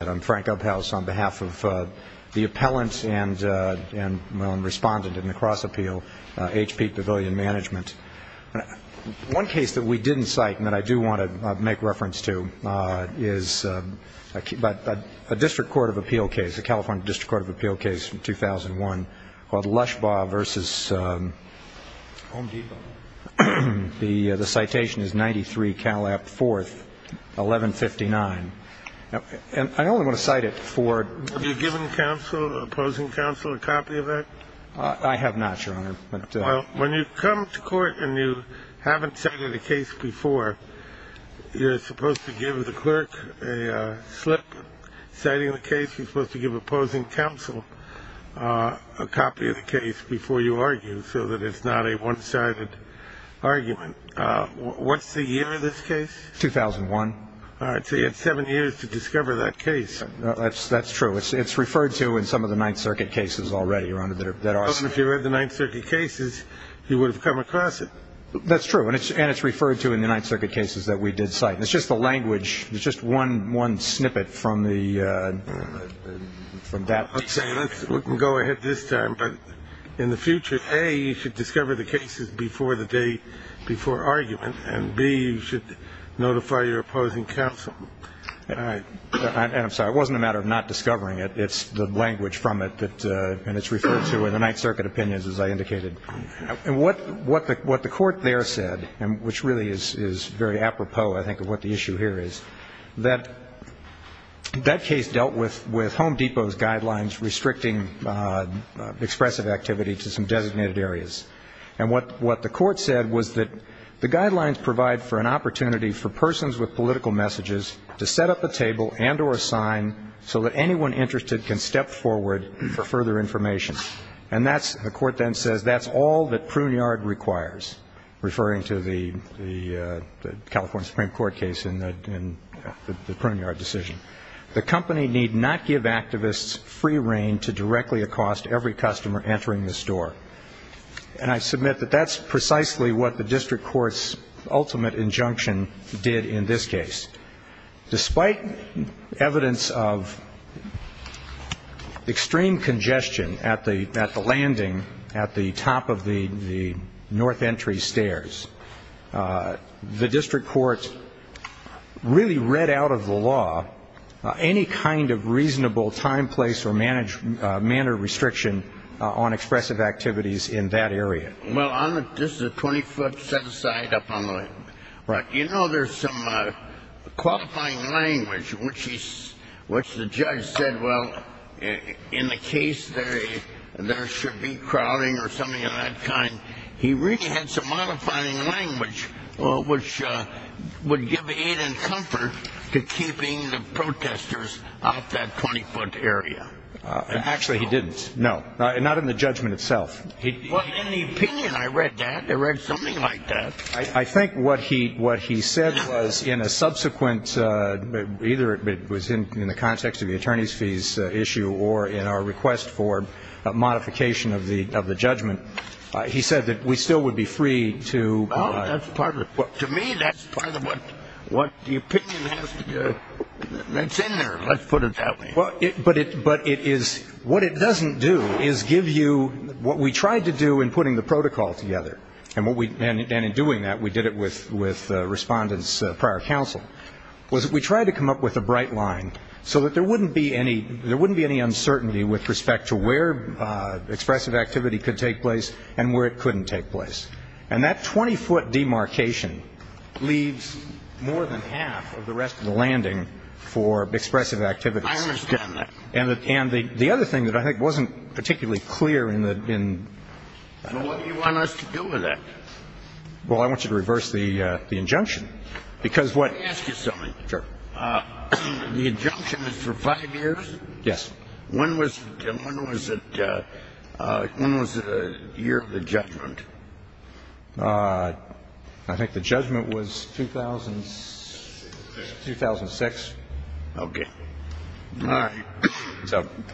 I'm Frank Uphaus on behalf of the appellant and respondent in the cross-appeal, HP Pavilion Management. One case that we didn't cite and that I do want to make reference to is a district court of appeal case, a California district court of appeal case from 2001 called Lushbaugh v. Home Depot. The citation is 93 Calap 4th, 1159. I only want to cite it for... Have you given counsel, opposing counsel, a copy of that? I have not, Your Honor. When you come to court and you haven't cited a case before, you're supposed to give the clerk a slip citing the case. You're supposed to give opposing counsel a copy of the case before you argue so that it's not a one-sided argument. What's the year of this case? 2001. All right. So you had seven years to discover that case. That's true. It's referred to in some of the Ninth Circuit cases already, Your Honor, that are... Well, if you read the Ninth Circuit cases, you would have come across it. That's true. And it's referred to in the Ninth Circuit cases that we did cite. It's just the language. It's just one snippet from the... We can go ahead this time. But in the future, A, you should discover the cases before the day before argument, and B, you should notify your opposing counsel. And I'm sorry. It wasn't a matter of not discovering it. It's the language from it that... And it's referred to in the Ninth Circuit opinions, as I indicated. What the court there said, which really is very apropos, I think, of what the issue here is, that that case dealt with Home Depot's guidelines restricting expressive activity to some designated areas. And what the court said was that the guidelines provide for an opportunity for persons with political messages to set up a table and or a sign so that anyone interested can step forward for further information. And the court then says that's all that Pruneyard requires, referring to the California Supreme Court case in the Pruneyard decision. The company need not give activists free reign to directly accost every customer entering this door. And I submit that that's precisely what the district court's ultimate injunction did in this case. Despite evidence of extreme congestion at the landing at the top of the North Entry stairs, the district court really read out of the law any kind of reasonable time, place or manner restriction on expressive activities in that area. Well, this is a 20-foot set-aside up on the left. You know, there's some qualifying language which the judge said, well, in the case there should be crowding or something of that kind. He really had some modifying language which would give aid and comfort to keeping the protesters off that 20-foot area. Actually, he didn't. No. Not in the judgment itself. Well, in the opinion I read that. I read something like that. I think what he said was in a subsequent, either it was in the context of the attorney's issue or in our request for modification of the judgment, he said that we still would be free to provide. Oh, that's part of it. To me, that's part of what the opinion is. That's in there. Let's put it that way. But it is, what it doesn't do is give you what we tried to do in putting the protocol together. And in doing that, we did it with respondents prior counsel. We tried to come up with a bright line so that there wouldn't be any uncertainty with respect to where expressive activity could take place and where it couldn't take place. And that 20-foot demarcation leaves more than half of the rest of the landing for expressive activity. I understand that. And the other thing that I think wasn't particularly clear in the… So what do you want us to do with that? Well, I want you to reverse the injunction. Because what… The injunction is for five years? Yes. When was it, when was it, when was the year of the judgment? I think the judgment was 2006. 2006. Okay. All right.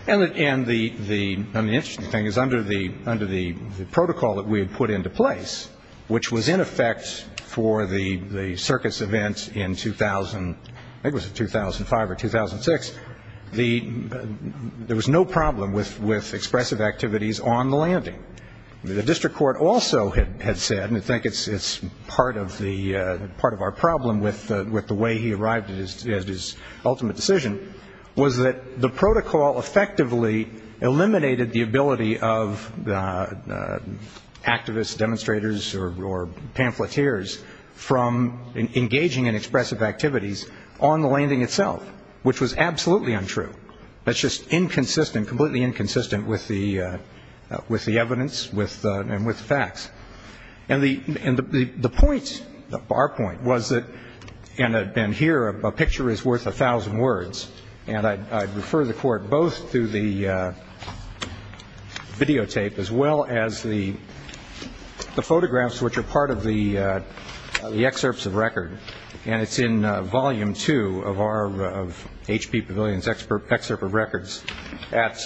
And the interesting thing is, under the protocol that we had put into place, which was in effect for the circus event in 2000, I think it was 2005 or 2006, there was no problem with expressive activities on the landing. The district court also had said, and I think it's part of our problem with the way he arrived at his ultimate decision, was that the protocol effectively eliminated the ability of activists, demonstrators, or pamphleteers from engaging in expressive activities on the landing itself, which was absolutely untrue. That's just inconsistent, completely inconsistent with the evidence and with the facts. And the point, our point, was that, and here a picture is worth a thousand words, and I think it's videotaped, as well as the photographs which are part of the excerpts of record. And it's in volume two of our, of H.P. Pavilion's excerpt of records at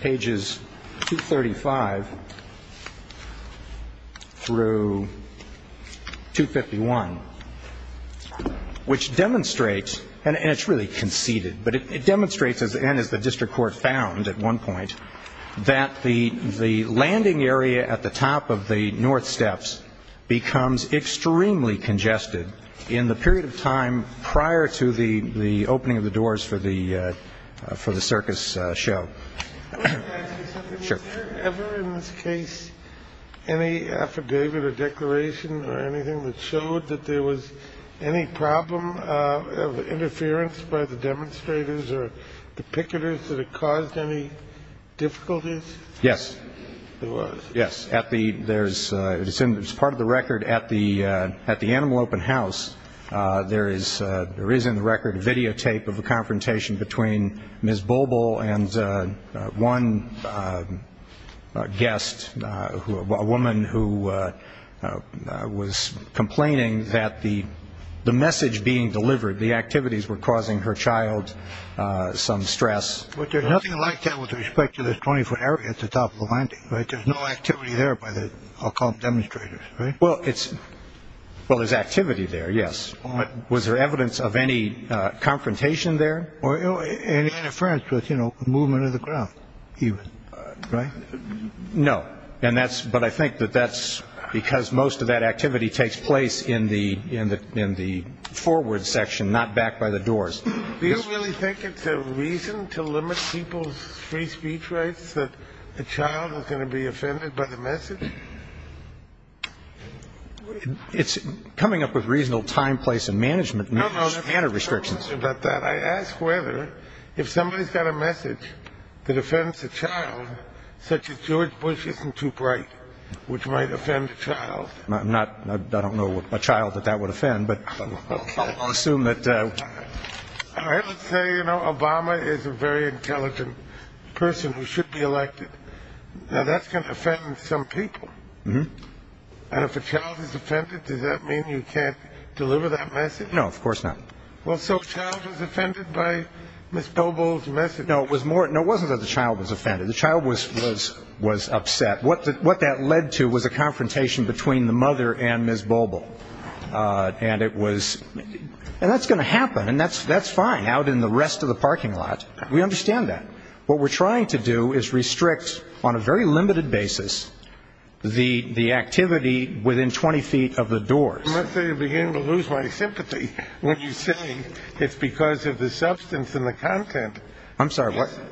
pages 235 through 251, which demonstrates, and it's really conceded, but it demonstrates, and as the district court found at one point, that the landing area at the top of the North Steps becomes extremely congested in the period of time prior to the opening of the doors for the circus show. Q. Can I ask you something? A. Sure. Q. Was there ever in this case any affidavit or declaration or anything that showed that there was any problem of interference by the demonstrators or the picketers that had caused any difficulties? A. Yes. Q. There was? A. Yes. At the, there's, it's part of the record at the, at the Animal Open House, there is, there is in the record a videotape of a confrontation between Ms. Bulbul and one guest, a woman who was complaining that the, the message being delivered, the activities were causing her child some stress. Q. But there's nothing like that with respect to this 20-foot area at the top of the landing, right? There's no activity there by the, I'll call them demonstrators, right? A. Well, it's, well, there's activity there, yes. Was there evidence of any confrontation there? Q. Or any interference with, you know, movement of the ground, even, right? A. No. And that's, but I think that that's because most of that activity takes place in the, in the, in the forward section, not back by the doors. Q. Do you really think it's a reason to limit people's free speech rights that the child is going to be offended by the message? A. It's coming up with reasonable time, place and management, and there's manner restrictions. Q. I have a question about that. I ask whether, if somebody's got a message that offends a child, such as George Bush isn't too bright, which might offend a child. A. I'm not, I don't know what a child that that would offend, but I'll assume that, uh. Q. I would say, you know, Obama is a very intelligent person who should be elected. Now, that's going to offend some people. And if a child is offended, does that mean you can't deliver that message? A. No, of course not. Q. Well, so a child was offended by Ms. Bobel's message? A. No, it was more, no, it wasn't that the child was offended. The child was, was, was upset. What that, what that led to was a confrontation between the mother and Ms. Bobel. And it was, and that's going to happen, and that's, that's fine out in the rest of the parking lot. We understand that. What we're trying to do is restrict, on a very limited basis, the, the activity within 20 feet of the doors. Q. I must say, I'm beginning to lose my sympathy when you say it's because of the substance and the content. A. I'm sorry, what? Q.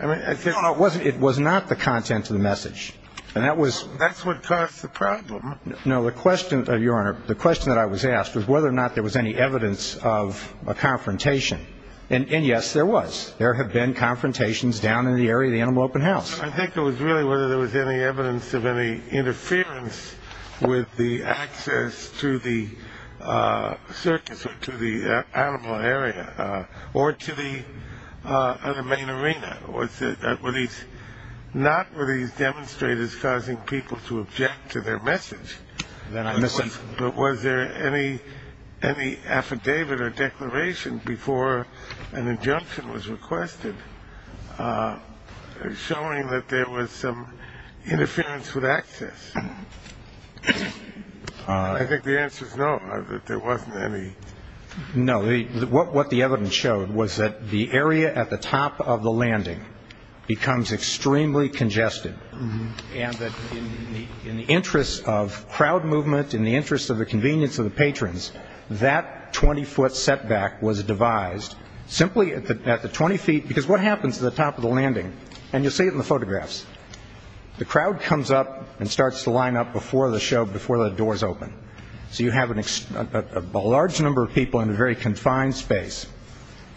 I mean, I said A. No, no, it wasn't, it was not the content of the message. And that was Q. That's what caused the problem. A. No, the question, Your Honor, the question that I was asked was whether or not there was any evidence of a confrontation. And, and yes, there was. There have been confrontations down in the area of the Animal Open House. Q. I think it was really whether there was any evidence of any interference with the access to the circus or to the animal area, or to the other main arena. Was it, were these, not were these demonstrators causing people to object to their message, but was there any, any affidavit or declaration before an injunction was requested showing that there was some interference with access? I think the answer is no, that there wasn't any. A. No, what the evidence showed was that the area at the top of the landing becomes extremely congested and that in the interest of crowd movement, in the interest of the convenience of the patrons, that 20-foot setback was devised simply at the, at the 20 feet, because what happens at the top of the landing, and you'll see it in the photographs, the crowd comes up and starts to line up before the show, before the doors open. So you have an, a large number of people in a very confined space.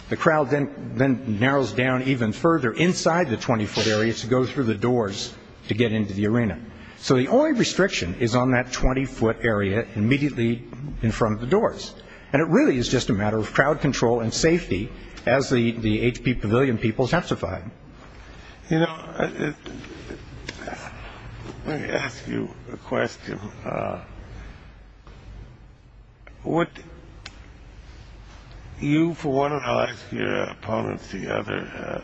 The crowd then, then narrows down even further inside the 20-foot area to go through the doors to get into the arena. So the only restriction is on that 20-foot area immediately in front of the doors. And it really is just a matter of crowd control and safety, as the, the HP Pavilion people testified. Q You know, let me ask you a question. Would you, for one, and I'll ask your opponents the other,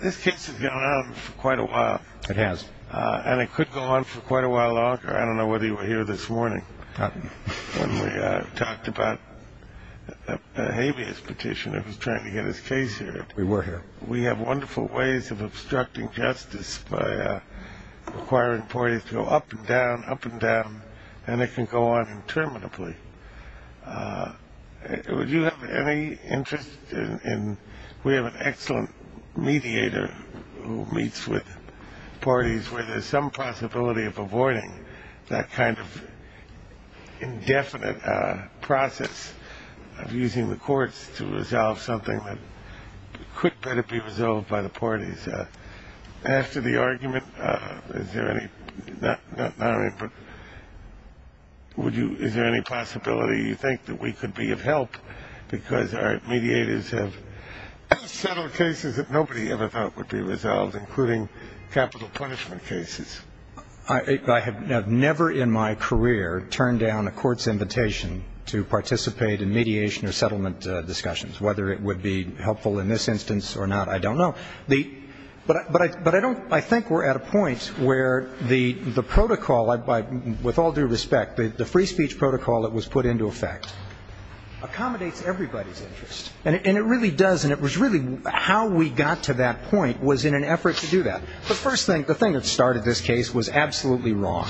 this case has gone on for quite a while. A. It has. Q And it could go on for quite a while longer. I don't know whether you were here this morning when we talked about the habeas petition that was trying to get his case here. A. We were here. Q We have wonderful ways of obstructing justice by requiring parties to go up and down, up and down, and it can go on interminably. Would you have any interest in, we have an excellent mediator who meets with parties where there is some possibility of avoiding that kind of indefinite process of using the courts to resolve something that could better be resolved by the parties? After the argument, is there any, not, not, I mean, but would you, is there any possibility you think that we could be of help because our mediators have settled cases that nobody ever thought would be resolved, including capital punishment cases? A. I have never in my career turned down a court's invitation to participate in mediation or settlement discussions. Whether it would be helpful in this instance or not, I don't know. But I don't, I think we're at a point where the protocol, with all due respect, the free speech protocol that was put into effect accommodates everybody's interest. And it really does. And it was really how we got to that point was in an effort to do that. The first thing, the thing that started this case was absolutely wrong.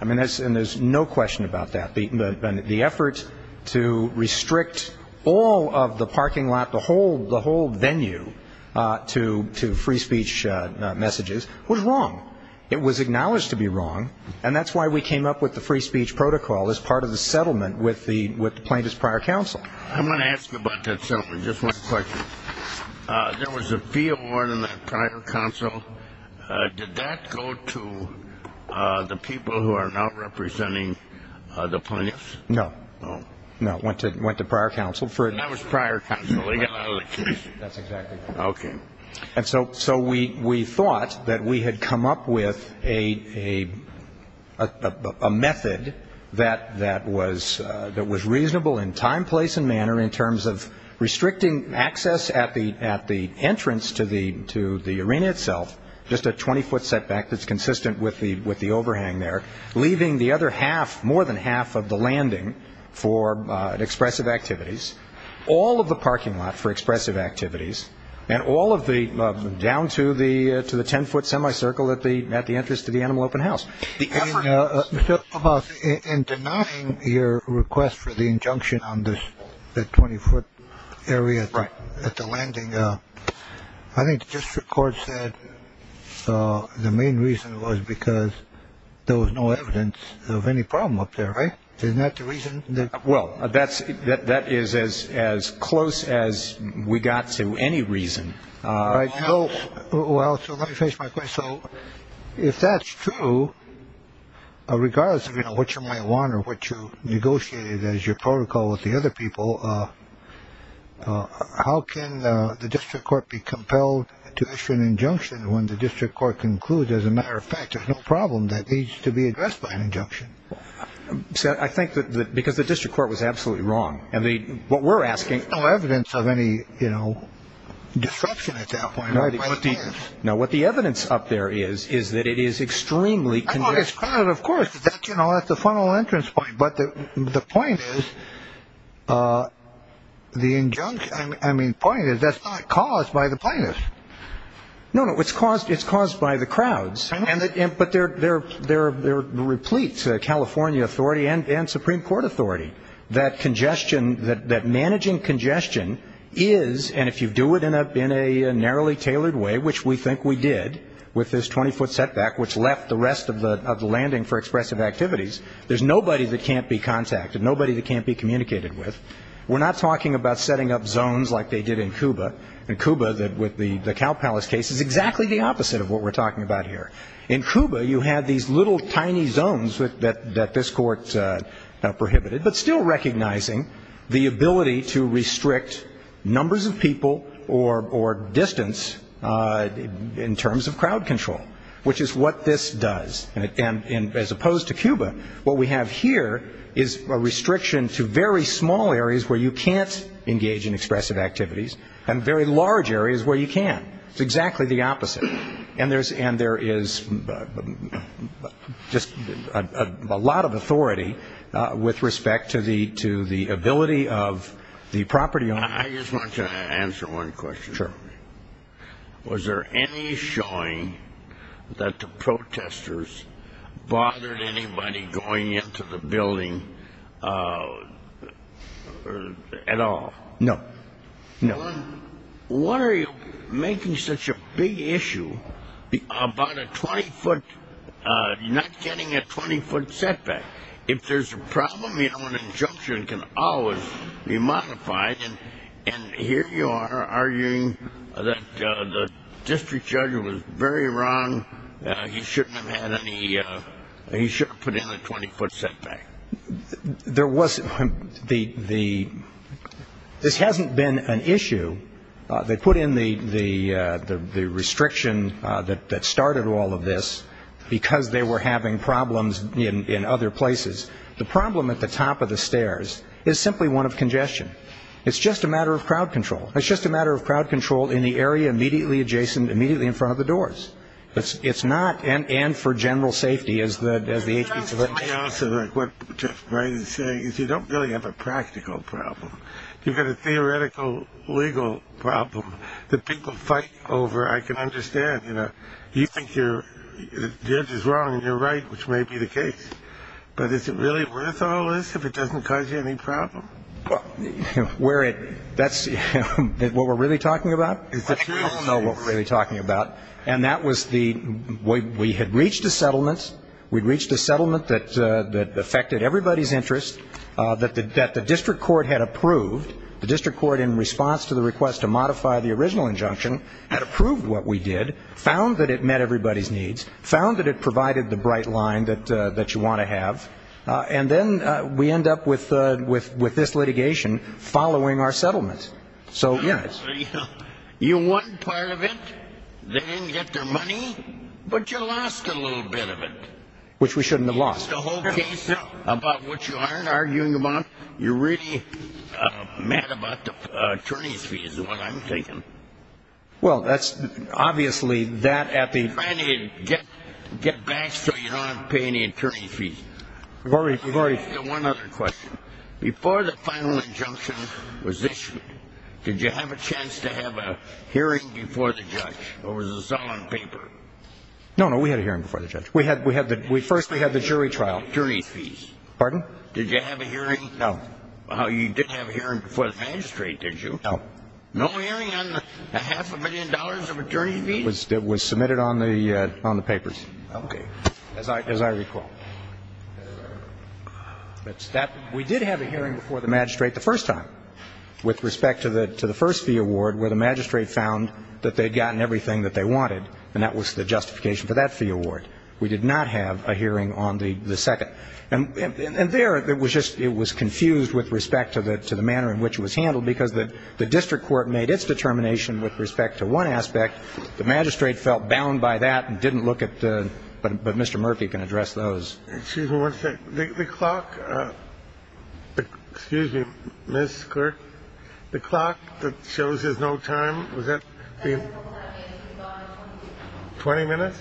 I mean, and there's no question about that. The effort to restrict all of the parking lot, the whole venue to free speech messages was wrong. It was acknowledged to be wrong. And that's why we came up with the free speech protocol as part of the settlement with the plaintiff's prior counsel. Q I'm going to ask you about that settlement. Just one question. There was a fee award in that prior counsel. Did that go to the people who are now representing the plaintiffs? A. No. Q No. A. No. It went to prior counsel for it. Q And that was prior counsel. They got out of the case. A. That's exactly right. And so we thought that we had come up with a method that was reasonable in time, place and manner in terms of restricting access at the entrance to the arena itself, just a 20-foot setback that's consistent with the overhang there, leaving the other half, more than half of the landing for expressive activities, all of the parking lot for expressive activities, and all of the, down to the 10-foot semicircle at the entrance to the Animal Open House. Q In denying your request for the injunction on the 20-foot area at the landing, I think the district court said the main reason was because there was no evidence of any problem up there, right? Isn't that the reason? A. Well, that is as close as we got to any reason. Q Well, so let me face my question. So if that's true, regardless of what you might want or what you negotiated as your protocol with the other people, how can the district court be compelled to issue an injunction when the district court concludes, as a matter of fact, there's no problem that needs to be addressed by an injunction? A. I think that, because the district court was absolutely wrong, and what we're asking... Q There's no evidence of any, you know, disruption at that point. A. No, what the evidence up there is, is that it is extremely... Q Oh, it's crowded, of course. That's the funnel entrance point. But the point is, the injunction, I mean, the point is that's not caused by the plainness. A. No, no, it's caused by the crowds. But they're replete, California authority and Supreme Court authority, that congestion, that managing congestion is, and if you do it in a narrowly tailored way, which we think we did with this 20-foot setback, which left the rest of the landing for expressive activities, there's nobody that can't be contacted, nobody that can't be communicated with. We're not talking about setting up zones like they did in Cuba. In Cuba, with the Cow Palace case, it's exactly the opposite of what we're talking about here. In Cuba, you had these little tiny zones that this court prohibited, but still recognizing the ability to restrict numbers of people or distance in terms of crowd control, which is what this does. And as opposed to Cuba, what we have here is a large area where you can't do any expressive activities, and very large areas where you can. It's exactly the opposite. And there is just a lot of authority with respect to the ability of the property owners. Q. I just want to answer one question. A. Sure. Q. Was there any showing that the protesters bothered anybody going into the building at all? A. No. No. Q. Why are you making such a big issue about a 20-foot, not getting a 20-foot setback? If there's a problem, you know, an injunction can always be modified. And here you are arguing that the district judge was very wrong. He shouldn't have had any, he shouldn't have put in a 20-foot setback. A. There was, the, this hasn't been an issue. They put in the restriction that started all of this because they were having problems in other places. The problem at the top of the stairs is simply one of congestion. It's just a matter of crowd control. It's just a matter of crowd control in the area immediately adjacent, immediately in front of the doors. It's not, and for general safety, as the agency... Q. Let me also, like what Jeff Wright is saying, is you don't really have a practical problem. You've got a theoretical legal problem that people fight over. I can understand, you know, you think you're, the judge is wrong and you're right, which may be the case. But is it really worth all this if it doesn't cause you any problem? A. Well, where it, that's what we're really talking about? Q. Is that true? A. I don't know what we're really talking about. And that was the, we had reached a settlement that affected everybody's interest, that the district court had approved. The district court, in response to the request to modify the original injunction, had approved what we did, found that it met everybody's needs, found that it provided the bright line that you want to have. And then we end up with this litigation following our settlement. So, yes. Q. You won part of it. They didn't get their money. But you lost a little bit of it. A. Which we shouldn't have lost. Q. The whole case, about which you aren't arguing about, you're really mad about the attorney's fees, is what I'm thinking. A. Well, that's, obviously, that at the... Q. Get back so you don't have to pay any attorney's fees. A. I've already... Q. One other question. Before the final injunction was issued, did you have a chance to have a hearing before the judge? Or was this all on paper? A. No, no. We had a hearing before the judge. First, we had the jury trial. Q. Attorney's fees. A. Pardon? Q. Did you have a hearing? A. No. Q. Well, you did have a hearing before the magistrate, did you? A. No. Q. No hearing on a half a million dollars of attorney's fees? A. It was submitted on the papers. Q. Okay. As I recall. A. We did have a hearing before the magistrate the first time, with respect to the first fee award, where the magistrate found that they'd gotten everything that they wanted, and that was the justification for that fee award. We did not have a hearing on the second. And there, it was just, it was confused with respect to the manner in which it was handled because the district court made its determination with respect to one aspect. The magistrate felt bound by that and didn't look at the... But Mr. Murphy can address those. Excuse me one second. The clock. Excuse me, Ms. Clerk. The clock that shows there's no time. Was that the... 20 minutes?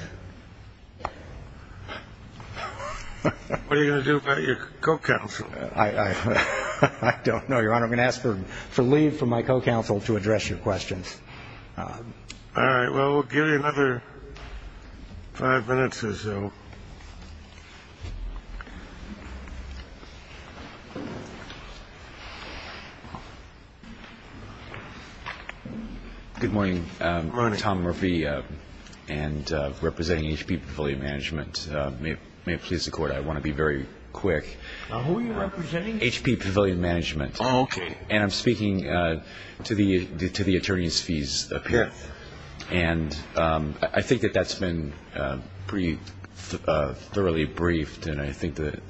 What are you going to do about your co-counsel? I don't know, Your Honor. I'm going to ask for leave from my co-counsel to address your questions. All right. Well, we'll give you another five minutes or so. Good morning. Tom Murphy, and representing HP Pavilion Management. May it please the Court, I want to be very quick. Who are you representing? HP Pavilion Management. Oh, okay. And I'm speaking to the attorney's fees appearance. And I think that that's been pretty thoroughly briefed. And I think that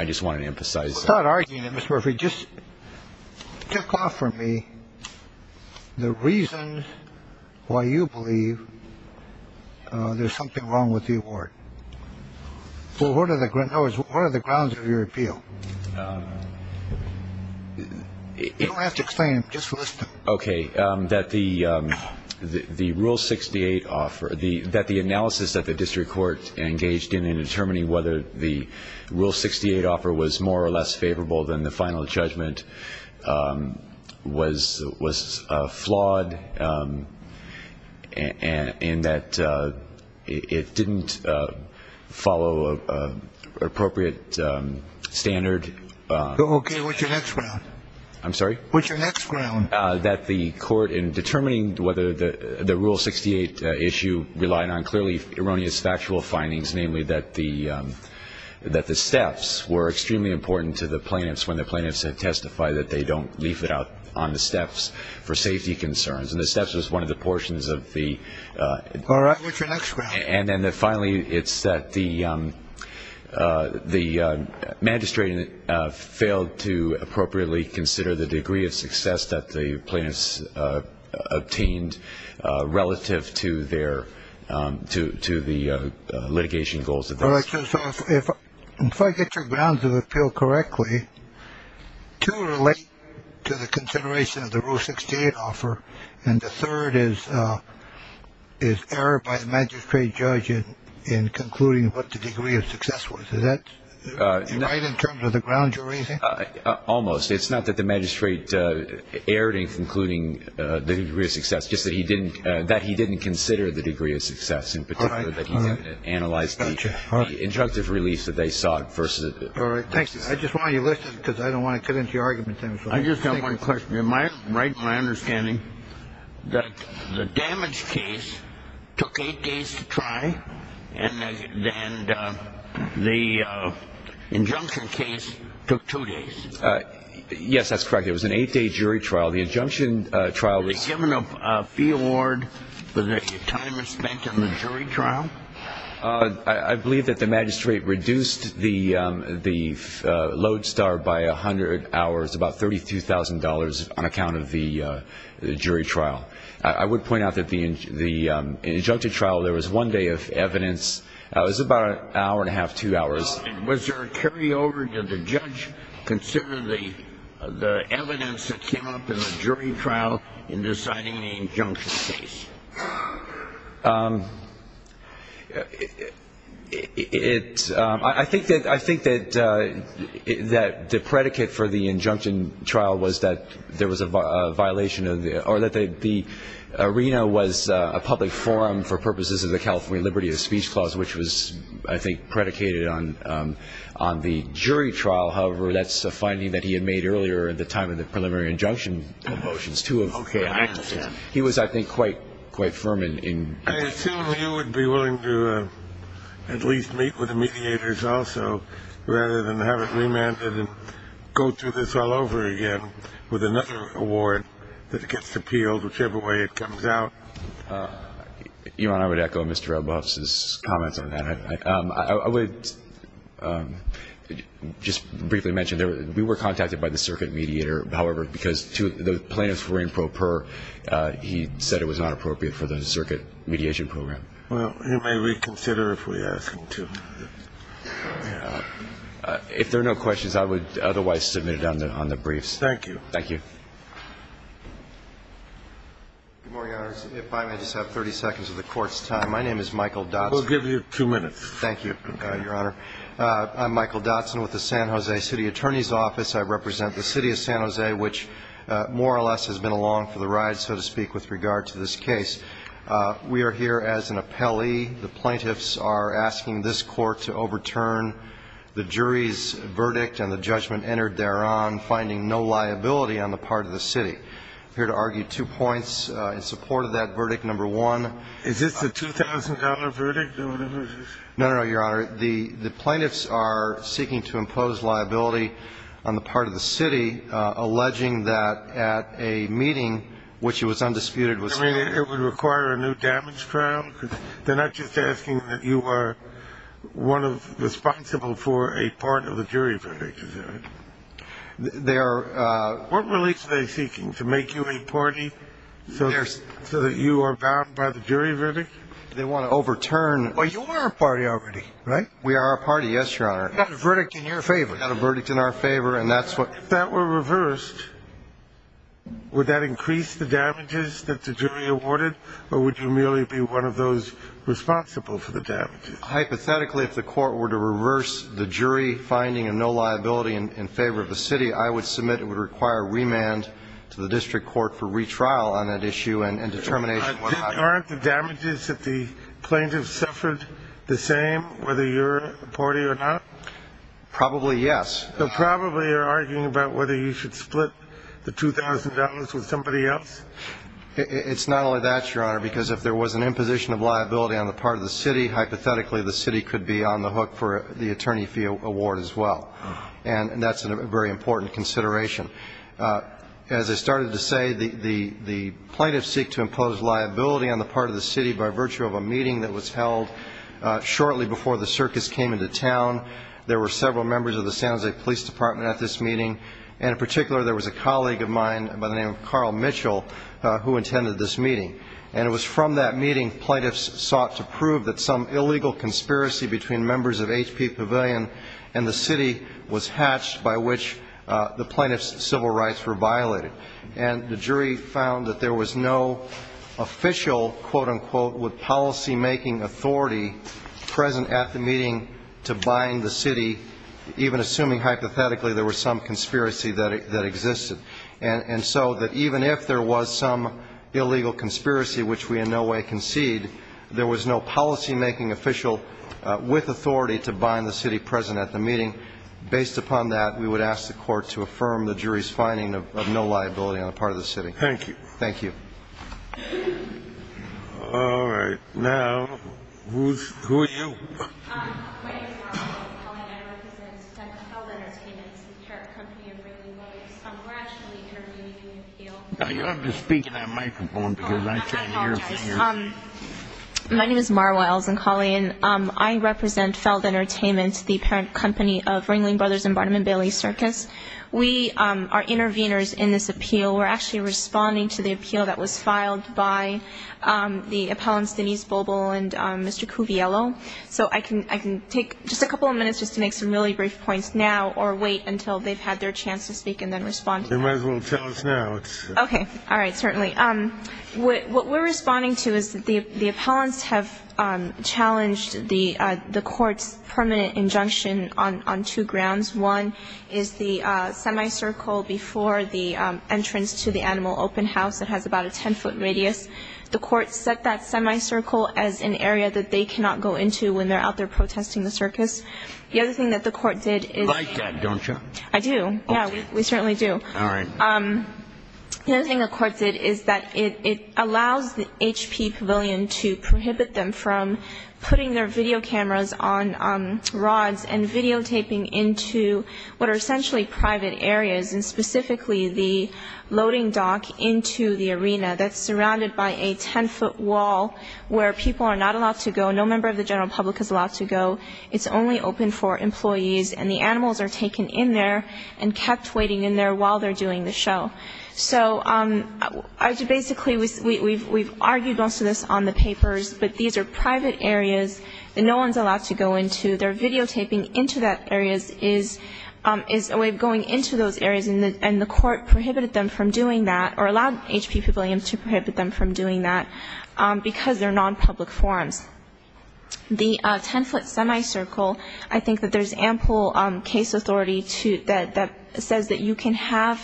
I just wanted to emphasize... Without arguing it, Mr. Murphy, just kick off for me the reason why you believe there's something wrong with the award. What are the grounds of your appeal? You don't have to explain it. Just listen. Okay. That the rule 68 offer... That the analysis that the district court engaged in in determining whether the rule 68 offer was more or less favorable than the final judgment was flawed and that it didn't follow an appropriate standard... Okay. What's your next ground? I'm sorry? What's your next ground? That the court in determining whether the rule 68 issue relied on clearly erroneous factual findings, namely that the steps were extremely important to the plaintiffs and to testify that they don't leave it out on the steps for safety concerns. And the steps was one of the portions of the... All right. What's your next ground? And then finally, it's that the magistrate failed to appropriately consider the degree of success that the plaintiffs obtained relative to the litigation goals. If I get your grounds of appeal correctly, two relate to the consideration of the rule 68 offer and the third is error by the magistrate judge in concluding what the degree of success was. Is that right in terms of the grounds you're raising? Almost. It's not that the magistrate erred in concluding the degree of success. It's just that he didn't consider the degree of success and particularly that he didn't analyze the injunctive release that they sought versus... All right. Thanks. I just want you to listen because I don't want to cut into your argument. I just have one question. Am I right in my understanding that the damage case took eight days to try and the injunction case took two days? Yes, that's correct. It was an eight-day jury trial. Were they given a fee award for the time spent in the jury trial? I believe that the magistrate reduced the lodestar by a hundred hours, about $32,000 on account of the jury trial. I would point out that in the injunctive trial, there was one day of evidence. It was about an hour and a half, two hours. Was there a carryover? Did the judge consider the evidence that came up in the jury trial in deciding the injunction case? I think that the predicate for the injunction trial was that there was a violation of the... or that the arena was a public forum for purposes of the California Liberty of Speech Clause, which was, I think, predicated on the jury trial. However, that's a finding that he had made earlier at the time of the preliminary injunction motions. Okay, I understand. He was, I think, quite firm in... I assume you would be willing to at least meet with the mediators also rather than have it remanded and go through this all over again with another award that gets appealed whichever way it comes out. Your Honor, I would echo Mr. Elbaugh's comments on that. I would just briefly mention that we were contacted by the circuit mediator. However, because the plaintiffs were improper, he said it was not appropriate for the circuit mediation program. Well, he may reconsider if we ask him to. If there are no questions, I would otherwise submit it on the briefs. Thank you. Thank you. Good morning, Your Honors. If I may just have 30 seconds of the Court's time. My name is Michael Dotson. We'll give you two minutes. Thank you, Your Honor. I'm Michael Dotson with the San Jose City Attorney's Office. I represent the City of San Jose, which more or less has been along for the ride, so to speak, with regard to this case. We are here as an appellee. The plaintiffs are asking this Court to overturn the jury's verdict and the judgment entered thereon, finding no liability on the part of the city. I'm here to argue two points in support of that verdict. Number one. Is this the $2,000 verdict or whatever it is? No, no, no, Your Honor. The plaintiffs are seeking to impose liability on the part of the city, alleging that at a meeting, which it was undisputed was held. You mean it would require a new damage trial? They're not just asking that you are responsible for a part of the jury verdict. Is that right? They are. What release are they seeking? To make you a party so that you are bound by the jury verdict? They want to overturn. Well, you are a party already, right? We are a party, yes, Your Honor. You've got a verdict in your favor. We've got a verdict in our favor, and that's what. If that were reversed, would that increase the damages that the jury awarded, or would you merely be one of those responsible for the damages? Hypothetically, if the court were to reverse the jury finding of no liability in favor of the city, I would submit it would require remand to the district court for retrial on that issue and determination of what happened. Aren't the damages that the plaintiffs suffered the same, whether you're a party or not? Probably yes. So probably you're arguing about whether you should split the $2,000 with somebody else? It's not only that, Your Honor, because if there was an imposition of liability on the part of the city, hypothetically, the city could be on the hook for the attorney fee award as well, and that's a very important consideration. As I started to say, the plaintiffs seek to impose liability on the part of the city by virtue of a meeting that was held shortly before the circus came into town. There were several members of the San Jose Police Department at this meeting, and in particular there was a colleague of mine by the name of Carl Mitchell who attended this meeting, and it was from that meeting plaintiffs sought to prove that some illegal conspiracy between members of H.P. Pavilion and the city was hatched by which the plaintiffs' civil rights were violated. And the jury found that there was no official, quote, unquote, with policymaking authority present at the meeting to bind the city, even assuming hypothetically there was some conspiracy that existed. And so that even if there was some illegal conspiracy, which we in no way concede, there was no policymaking official with authority to bind the city present at the meeting. Based upon that, we would ask the court to affirm the jury's finding of no liability on the part of the city. Thank you. Thank you. All right. My name is Marcia O'Connell, and I represent Feld Entertainment, the parent company of Ringling Brothers. We're actually intervening in an appeal. You'll have to speak into that microphone because I can't hear a thing. I apologize. My name is Mar Wiles, and, Colleen, I represent Feld Entertainment, the parent company of Ringling Brothers and Barnum & Bailey Circus. We are intervenors in this appeal. We're actually responding to the appeal that was filed by the appellants, Denise Bobel and Mr. Cuviello. So I can take just a couple of minutes just to make some really brief points now or wait until they've had their chance to speak and then respond. They might as well tell us now. Okay. All right. Certainly. What we're responding to is the appellants have challenged the court's permanent injunction on two grounds. One is the semicircle before the entrance to the animal open house that has about a 10-foot radius. The court set that semicircle as an area that they cannot go into when they're out there protesting the circus. The other thing that the court did is – You like that, don't you? I do. Yeah, we certainly do. All right. The other thing the court did is that it allows the HP Pavilion to prohibit them from putting their video cameras on rods and videotaping into what are essentially private areas and specifically the loading dock into the arena that's surrounded by a 10-foot wall where people are not allowed to go. No member of the general public is allowed to go. It's only open for employees. And the animals are taken in there and kept waiting in there while they're doing the show. So basically we've argued most of this on the papers, but these are private areas that no one's allowed to go into. Their videotaping into that area is a way of going into those areas, and the court prohibited them from doing that or allowed HP Pavilion to prohibit them from doing that because they're non-public forums. The 10-foot semicircle, I think that there's ample case authority that says that you can have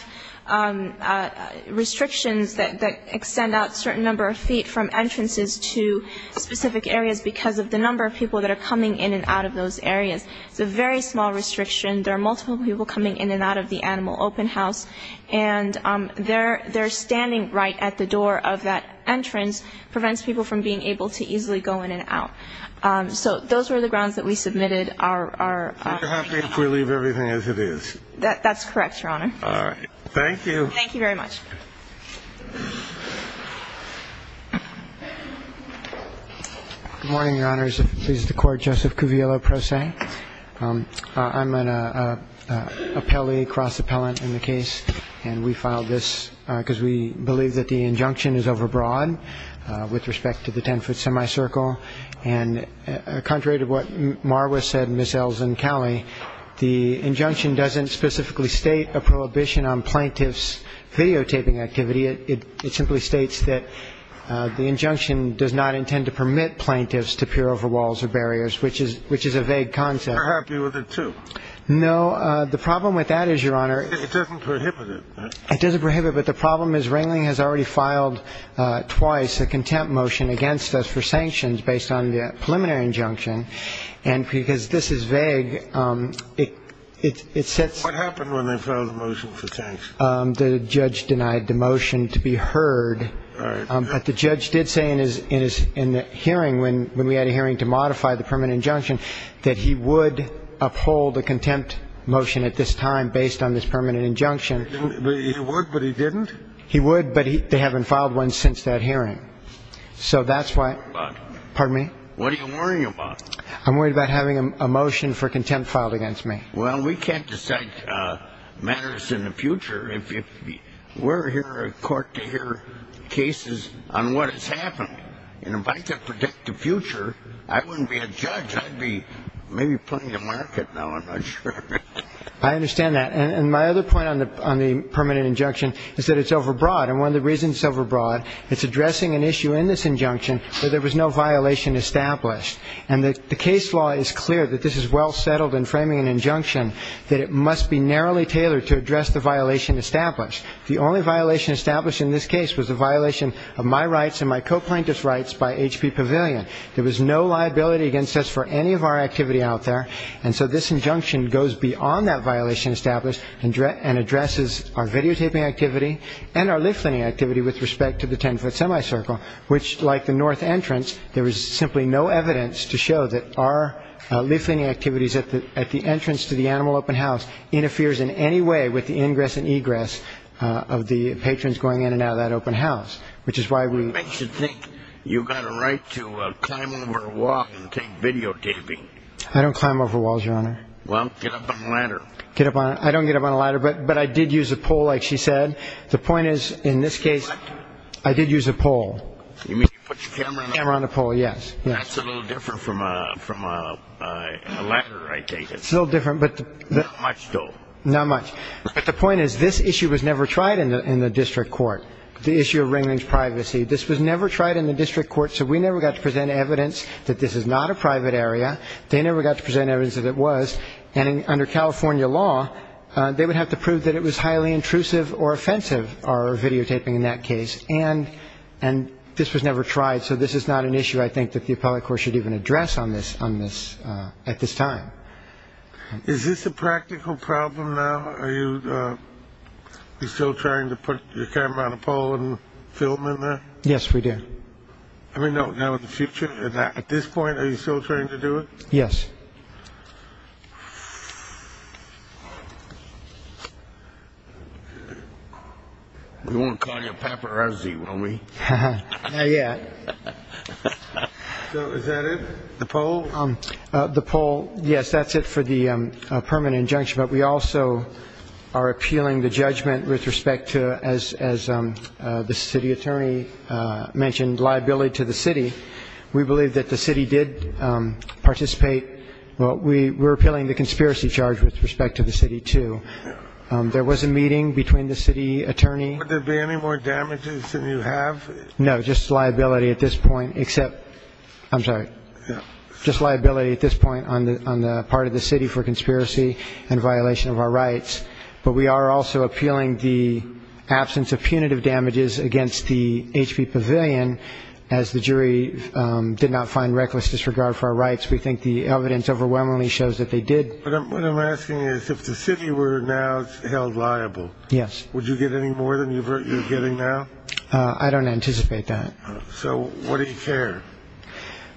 restrictions that extend out a certain number of feet from entrances to specific areas because of the number of people that are coming in and out of those areas. It's a very small restriction. There are multiple people coming in and out of the animal open house, and their standing right at the door of that entrance prevents people from being able to easily go in and out. So those were the grounds that we submitted our opinion on. Are you happy if we leave everything as it is? That's correct, Your Honor. All right. Thank you. Thank you very much. Good morning, Your Honors. If it pleases the Court, Joseph Cuviello, pro se. I'm an appellee, cross-appellant in the case, and we filed this because we believe that the injunction is overbroad with respect to the 10-foot semicircle. And contrary to what Marwa said and Ms. Elzencalli, the injunction doesn't specifically state a prohibition on plaintiffs' videotaping, it simply states that the injunction does not intend to permit plaintiffs to peer over walls or barriers, which is a vague concept. Are you happy with it, too? No. The problem with that is, Your Honor. It doesn't prohibit it, does it? It doesn't prohibit it. But the problem is Ringling has already filed twice a contempt motion against us for sanctions based on the preliminary injunction. And because this is vague, it sets... What happened when they filed the motion for sanctions? The judge denied the motion to be heard. All right. But the judge did say in the hearing, when we had a hearing to modify the permanent injunction, that he would uphold a contempt motion at this time based on this permanent injunction. He would, but he didn't? He would, but they haven't filed one since that hearing. So that's why... What are you worried about? Pardon me? What are you worried about? I'm worried about having a motion for contempt filed against me. Well, we can't decide matters in the future if we're here in court to hear cases on what has happened. And if I could predict the future, I wouldn't be a judge. I'd be maybe playing the market now. I'm not sure. I understand that. And my other point on the permanent injunction is that it's overbroad. And one of the reasons it's overbroad, it's addressing an issue in this injunction where there was no violation established. And the case law is clear that this is well settled in framing an injunction that it must be narrowly tailored to address the violation established. The only violation established in this case was the violation of my rights and my coplainant's rights by H.P. Pavilion. There was no liability against us for any of our activity out there. And so this injunction goes beyond that violation established and addresses our videotaping activity and our leafleting activity with respect to the 10-foot semicircle, which, like the north entrance, there was simply no evidence to show that our leafleting activities at the entrance to the animal open house interferes in any way with the ingress and egress of the patrons going in and out of that open house, which is why we ---- It makes you think you've got a right to climb over a wall and take videotaping. I don't climb over walls, Your Honor. Well, get up on a ladder. I don't get up on a ladder, but I did use a pole, like she said. You mean you put your camera on a pole? Camera on a pole, yes. That's a little different from a ladder, I take it. It's a little different. Not much, though. Not much. But the point is this issue was never tried in the district court, the issue of Ringling's privacy. This was never tried in the district court, so we never got to present evidence that this is not a private area. They never got to present evidence that it was. And under California law, they would have to prove that it was highly intrusive or offensive, our videotaping in that case. And this was never tried, so this is not an issue I think that the appellate court should even address on this at this time. Is this a practical problem now? Are you still trying to put your camera on a pole and film in there? Yes, we do. I mean, now in the future? At this point, are you still trying to do it? Yes. We won't call you a paparazzi, will we? Not yet. So is that it? The poll? The poll, yes, that's it for the permanent injunction. But we also are appealing the judgment with respect to, as the city attorney mentioned, liability to the city. We believe that the city did participate. We're appealing the conspiracy charge with respect to the city, too. There was a meeting between the city attorney. Would there be any more damages than you have? No, just liability at this point, except ‑‑ I'm sorry. Just liability at this point on the part of the city for conspiracy and violation of our rights. But we are also appealing the absence of punitive damages against the HP Pavilion, as the jury did not find reckless disregard for our rights. We think the evidence overwhelmingly shows that they did. What I'm asking is if the city were now held liable, would you get any more than you're getting now? I don't anticipate that. So what do you care?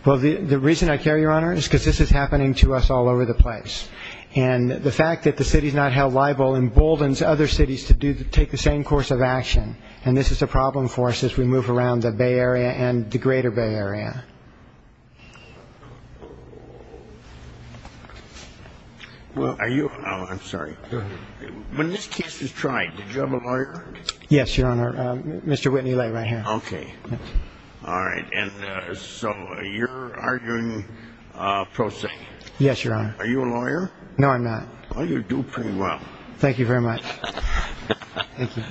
Well, the reason I care, Your Honor, is because this is happening to us all over the place. And the fact that the city is not held liable emboldens other cities to take the same course of action. And this is a problem for us as we move around the Bay Area and the greater Bay Area. Well, are you ‑‑ oh, I'm sorry. Go ahead. When this case was tried, did you have a lawyer? Yes, Your Honor. Mr. Whitney Lay right here. Okay. All right. And so you're arguing pro se? Yes, Your Honor. Are you a lawyer? No, I'm not. Well, you do pretty well. Thank you very much. Thank you.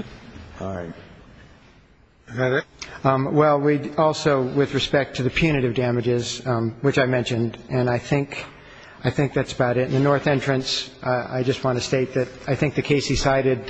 All right. Is that it? Well, we also, with respect to the punitive damages, which I mentioned, and I think that's about it. In the north entrance, I just want to state that I think the case he cited,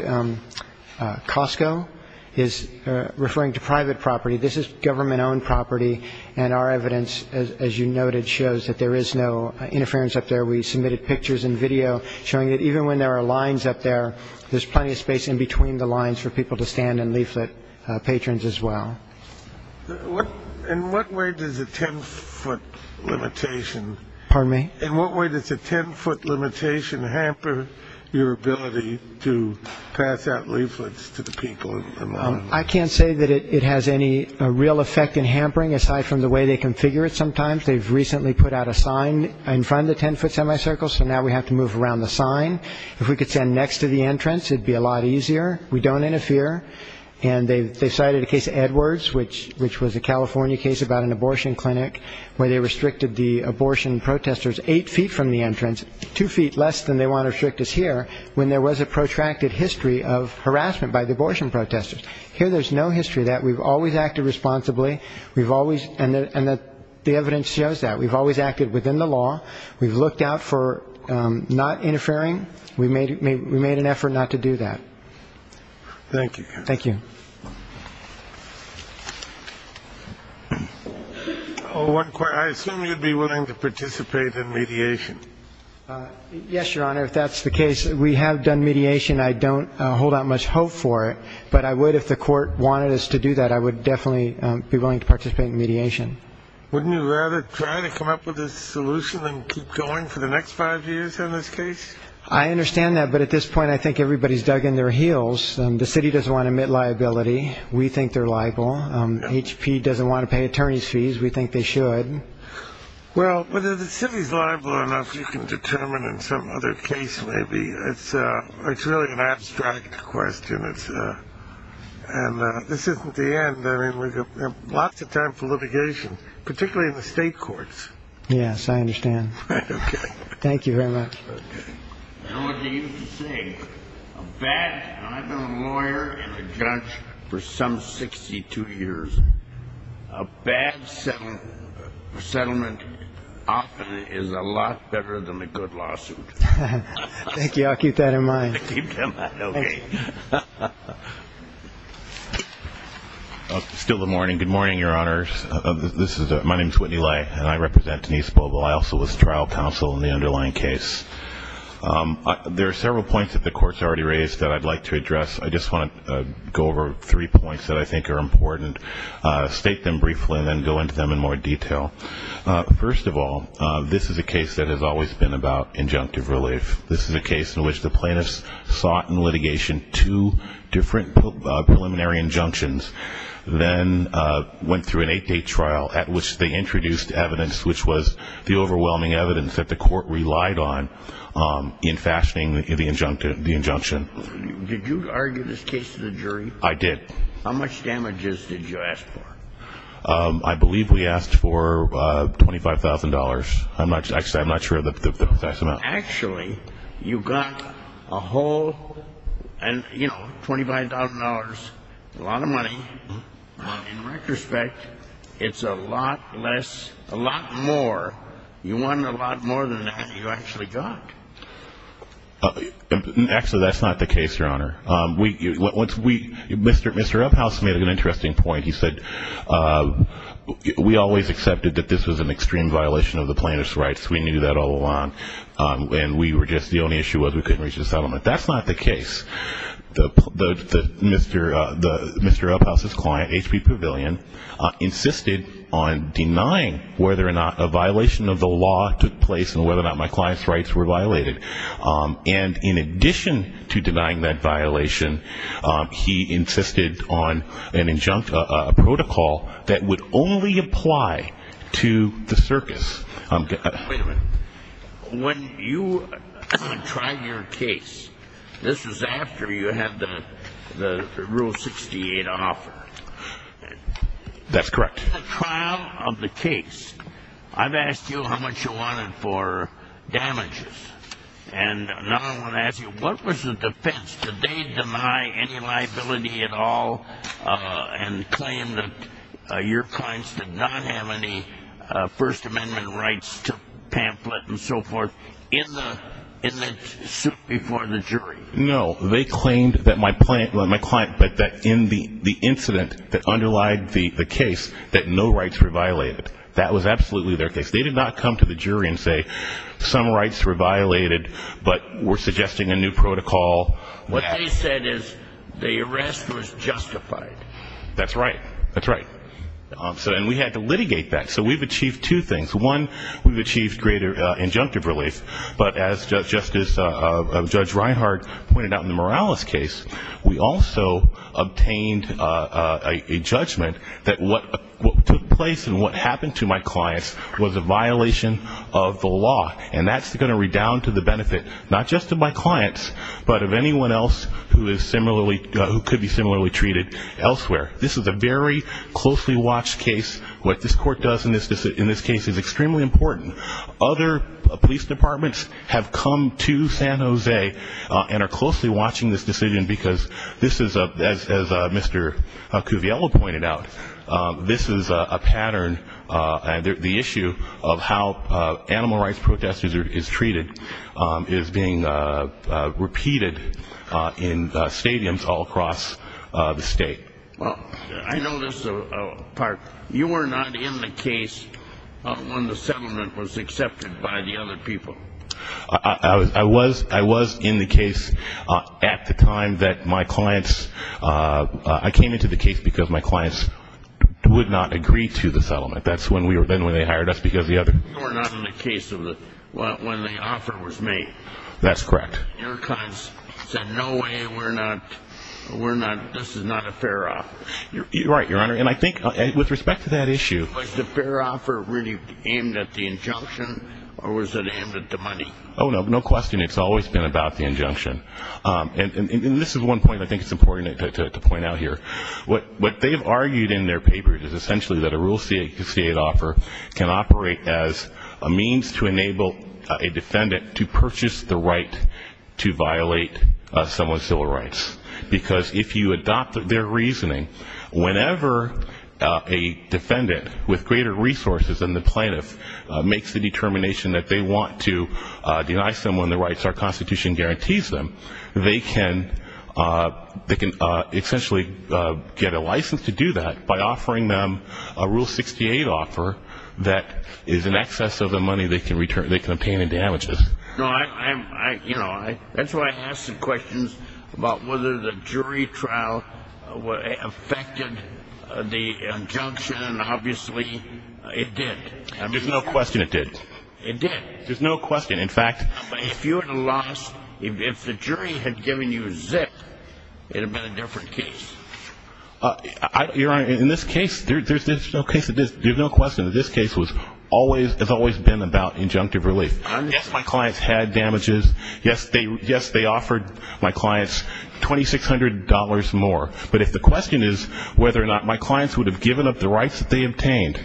Costco, is referring to private property. This is government‑owned property, and our evidence, as you noted, shows that there is no interference up there. We submitted pictures and video showing that even when there are lines up there, there's plenty of space in between the lines for people to stand and leaflet patrons as well. In what way does a 10‑foot limitation ‑‑ Pardon me? In what way does a 10‑foot limitation hamper your ability to pass out leaflets to the people? I can't say that it has any real effect in hampering, aside from the way they configure it sometimes. They've recently put out a sign in front of the 10‑foot semicircle, so now we have to move around the sign. If we could stand next to the entrance, it would be a lot easier. We don't interfere. And they cited a case, Edwards, which was a California case about an abortion clinic where they restricted the abortion protesters eight feet from the entrance, two feet less than they want to restrict us here, when there was a protracted history of harassment by the abortion protesters. Here there's no history of that. We've always acted responsibly. And the evidence shows that. We've always acted within the law. We've looked out for not interfering. We made an effort not to do that. Thank you. Thank you. I assume you'd be willing to participate in mediation. Yes, Your Honor, if that's the case. We have done mediation. I don't hold out much hope for it. But I would if the court wanted us to do that. I would definitely be willing to participate in mediation. Wouldn't you rather try to come up with a solution than keep going for the next five years in this case? I understand that, but at this point I think everybody's dug in their heels. The city doesn't want to admit liability. We think they're liable. HP doesn't want to pay attorney's fees. We think they should. Well, whether the city's liable or not, you can determine in some other case maybe. It's really an abstract question. And this isn't the end. We have lots of time for litigation, particularly in the state courts. Yes, I understand. Thank you very much. Okay. You know what they used to say. I've been a lawyer and a judge for some 62 years. A bad settlement often is a lot better than a good lawsuit. Thank you. I'll keep that in mind. I'll keep that in mind. Okay. Still the morning. Good morning, Your Honors. My name is Whitney Lay, and I represent Denise Boebel. I also was trial counsel in the underlying case. There are several points that the Court's already raised that I'd like to address. I just want to go over three points that I think are important, state them briefly, and then go into them in more detail. First of all, this is a case that has always been about injunctive relief. This is a case in which the plaintiffs sought in litigation two different preliminary injunctions, then went through an eight-day trial at which they introduced evidence, which was the overwhelming evidence that the Court relied on in fashioning the injunction. Did you argue this case to the jury? I did. How much damages did you ask for? I believe we asked for $25,000. I'm not sure of the precise amount. Well, actually, you got a whole, you know, $25,000, a lot of money. In retrospect, it's a lot less, a lot more. You won a lot more than that you actually got. Actually, that's not the case, Your Honor. Mr. Uphouse made an interesting point. He said, we always accepted that this was an extreme violation of the plaintiff's rights. We knew that all along. And we were just, the only issue was we couldn't reach a settlement. That's not the case. Mr. Uphouse's client, H.P. Pavilion, insisted on denying whether or not a violation of the law took place and whether or not my client's rights were violated. And in addition to denying that violation, he insisted on an injunct, a protocol that would only apply to the circus. Wait a minute. When you tried your case, this was after you had the Rule 68 on offer. That's correct. In the trial of the case, I've asked you how much you wanted for damages. And now I want to ask you, what was the defense? Did they deny any liability at all and claim that your clients did not have any First Amendment rights to pamphlet and so forth in the suit before the jury? No. They claimed that my client, that in the incident that underlied the case, that no rights were violated. That was absolutely their case. They did not come to the jury and say, some rights were violated, but we're suggesting a new protocol. What they said is the arrest was justified. That's right. That's right. And we had to litigate that. So we've achieved two things. One, we've achieved greater injunctive relief. But as Judge Reinhart pointed out in the Morales case, we also obtained a judgment that what took place and what happened to my clients was a violation of the law. And that's going to redound to the benefit, not just of my clients, but of anyone else who could be similarly treated elsewhere. This is a very closely watched case. What this court does in this case is extremely important. Other police departments have come to San Jose and are closely watching this decision because this is, as Mr. Cuviello pointed out, this is a pattern. The issue of how animal rights protesters are treated is being repeated in stadiums all across the state. Well, I know this part. You were not in the case when the settlement was accepted by the other people. I was in the case at the time that my clients, I came into the case because my clients would not agree to the settlement. That's when they hired us because the other. You were not in the case when the offer was made. That's correct. Your clients said, no way. We're not. We're not. This is not a fair offer. You're right, Your Honor. And I think with respect to that issue. Was the fair offer really aimed at the injunction or was it aimed at the money? Oh, no. No question. It's always been about the injunction. And this is one point I think it's important to point out here. What they've argued in their papers is essentially that a rule C8 offer can operate as a means to enable a defendant to purchase the right to violate someone's civil rights. Because if you adopt their reasoning, whenever a defendant with greater resources than the plaintiff makes the determination that they want to deny someone their rights, our Constitution guarantees them, they can essentially get a license to do that by offering them a rule 68 offer that is in excess of the money they can obtain in damages. That's why I asked the questions about whether the jury trial affected the injunction, and obviously it did. There's no question it did. It did. There's no question. If the jury had given you a zip, it would have been a different case. Your Honor, in this case, there's no question that this case has always been about injunctive relief. Yes, my clients had damages. Yes, they offered my clients $2,600 more. But if the question is whether or not my clients would have given up the rights that they obtained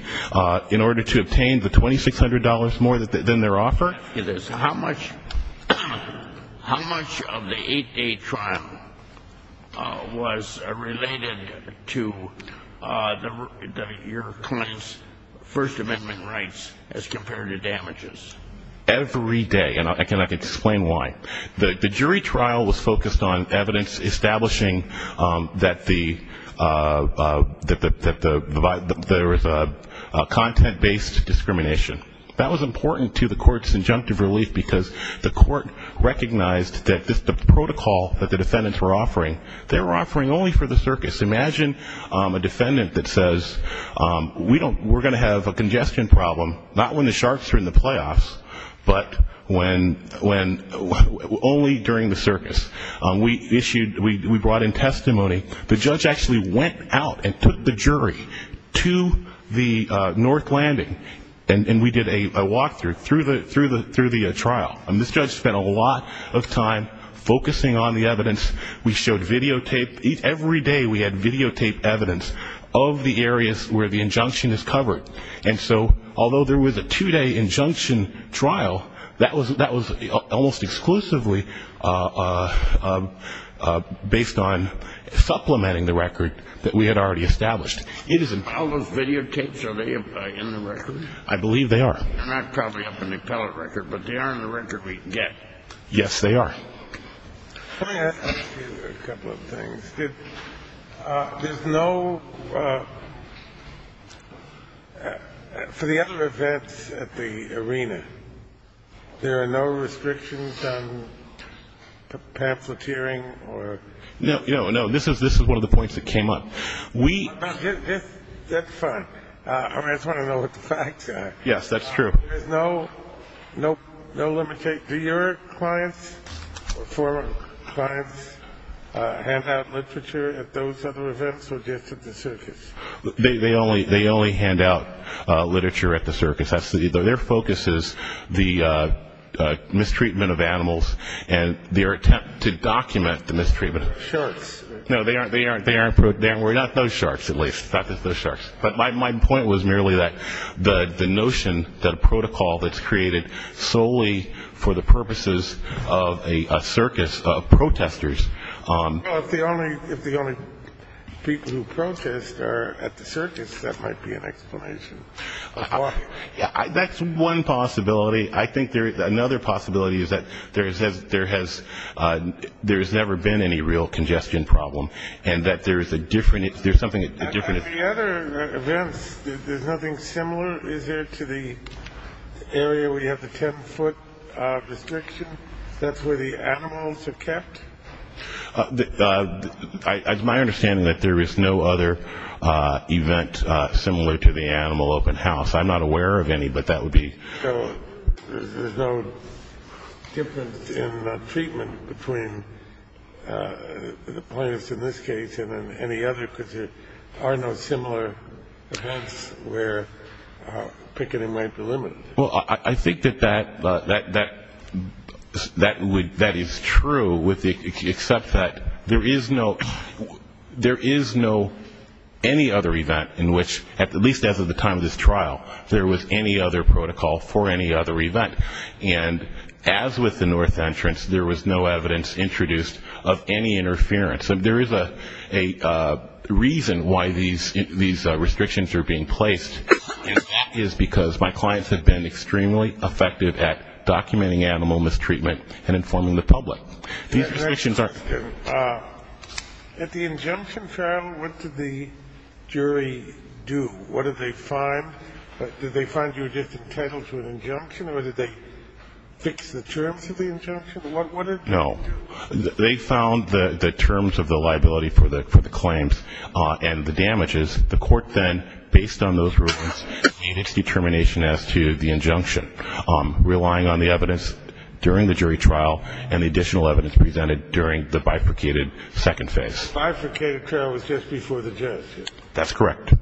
in order to obtain the $2,600 more than their offer? How much of the eight-day trial was related to your client's First Amendment rights as compared to damages? Every day, and I can explain why. The jury trial was focused on evidence establishing that there was a content-based discrimination. That was important to the court's injunctive relief, because the court recognized that the protocol that the defendants were offering, they were offering only for the circus. Imagine a defendant that says, we're going to have a congestion problem, not when the Sharks are in the playoffs, but only during the circus. We brought in testimony. The judge actually went out and took the jury to the North Landing, and we did a walk-through through the trial. And this judge spent a lot of time focusing on the evidence. We showed videotape. Every day, we had videotape evidence of the areas where the injunction is covered. And so although there was a two-day injunction trial, that was almost exclusively based on supplementing the record that we had already established. All those videotapes, are they in the record? I believe they are. They're not probably up in the appellate record, but they are in the record we get. Yes, they are. Let me ask you a couple of things. There's no ‑‑ for the other events at the arena, there are no restrictions on pamphleteering? No, no, this is one of the points that came up. That's fine. I just want to know what the facts are. Yes, that's true. There is no limitation. Do your clients or former clients hand out literature at those other events or just at the circus? They only hand out literature at the circus. Their focus is the mistreatment of animals and their attempt to document the mistreatment. Sharks. No, they aren't. Not those sharks, at least. My point was merely that the notion that a protocol that's created solely for the purposes of a circus of protesters. If the only people who protest are at the circus, that might be an explanation. That's one possibility. I think another possibility is that there has never been any real congestion problem and that there is a different ‑‑ there's something different. At the other events, there's nothing similar, is there, to the area where you have the ten-foot restriction? That's where the animals are kept? It's my understanding that there is no other event similar to the animal open house. I'm not aware of any, but that would be. So there's no difference in the treatment between the plaintiffs in this case and in any other because there are no similar events where picketing might be limited? Well, I think that that is true, except that there is no ‑‑ there is no any other event in which, at least as of the time of this trial, there was any other protocol for any other event. And as with the north entrance, there was no evidence introduced of any interference. There is a reason why these restrictions are being placed, and that is because my clients have been extremely effective at documenting animal mistreatment and informing the public. At the injunction trial, what did the jury do? What did they find? Did they find you were just entitled to an injunction, or did they fix the terms of the injunction? What did they do? No, they found the terms of the liability for the claims and the damages. The court then, based on those rulings, made its determination as to the injunction, relying on the evidence during the jury trial and the additional evidence presented during the bifurcated second phase. The bifurcated trial was just before the justice. That's correct.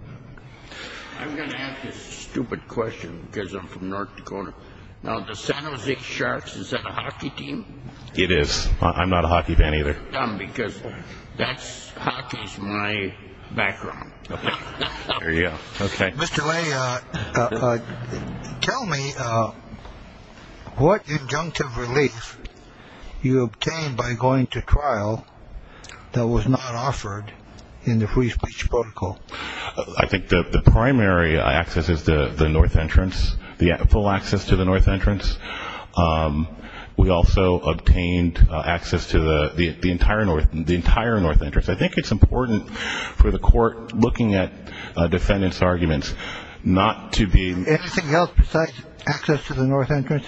I'm going to ask this stupid question because I'm from North Dakota. Now, the San Jose Sharks, is that a hockey team? It is. I'm not a hockey fan either. Because that's ‑‑ hockey is my background. Okay. There you go. Okay. Mr. Lay, tell me what injunctive relief you obtained by going to trial that was not offered in the free speech protocol. I think the primary access is the north entrance, the full access to the north entrance. We also obtained access to the entire north entrance. I think it's important for the court looking at defendants' arguments not to be ‑‑ Anything else besides access to the north entrance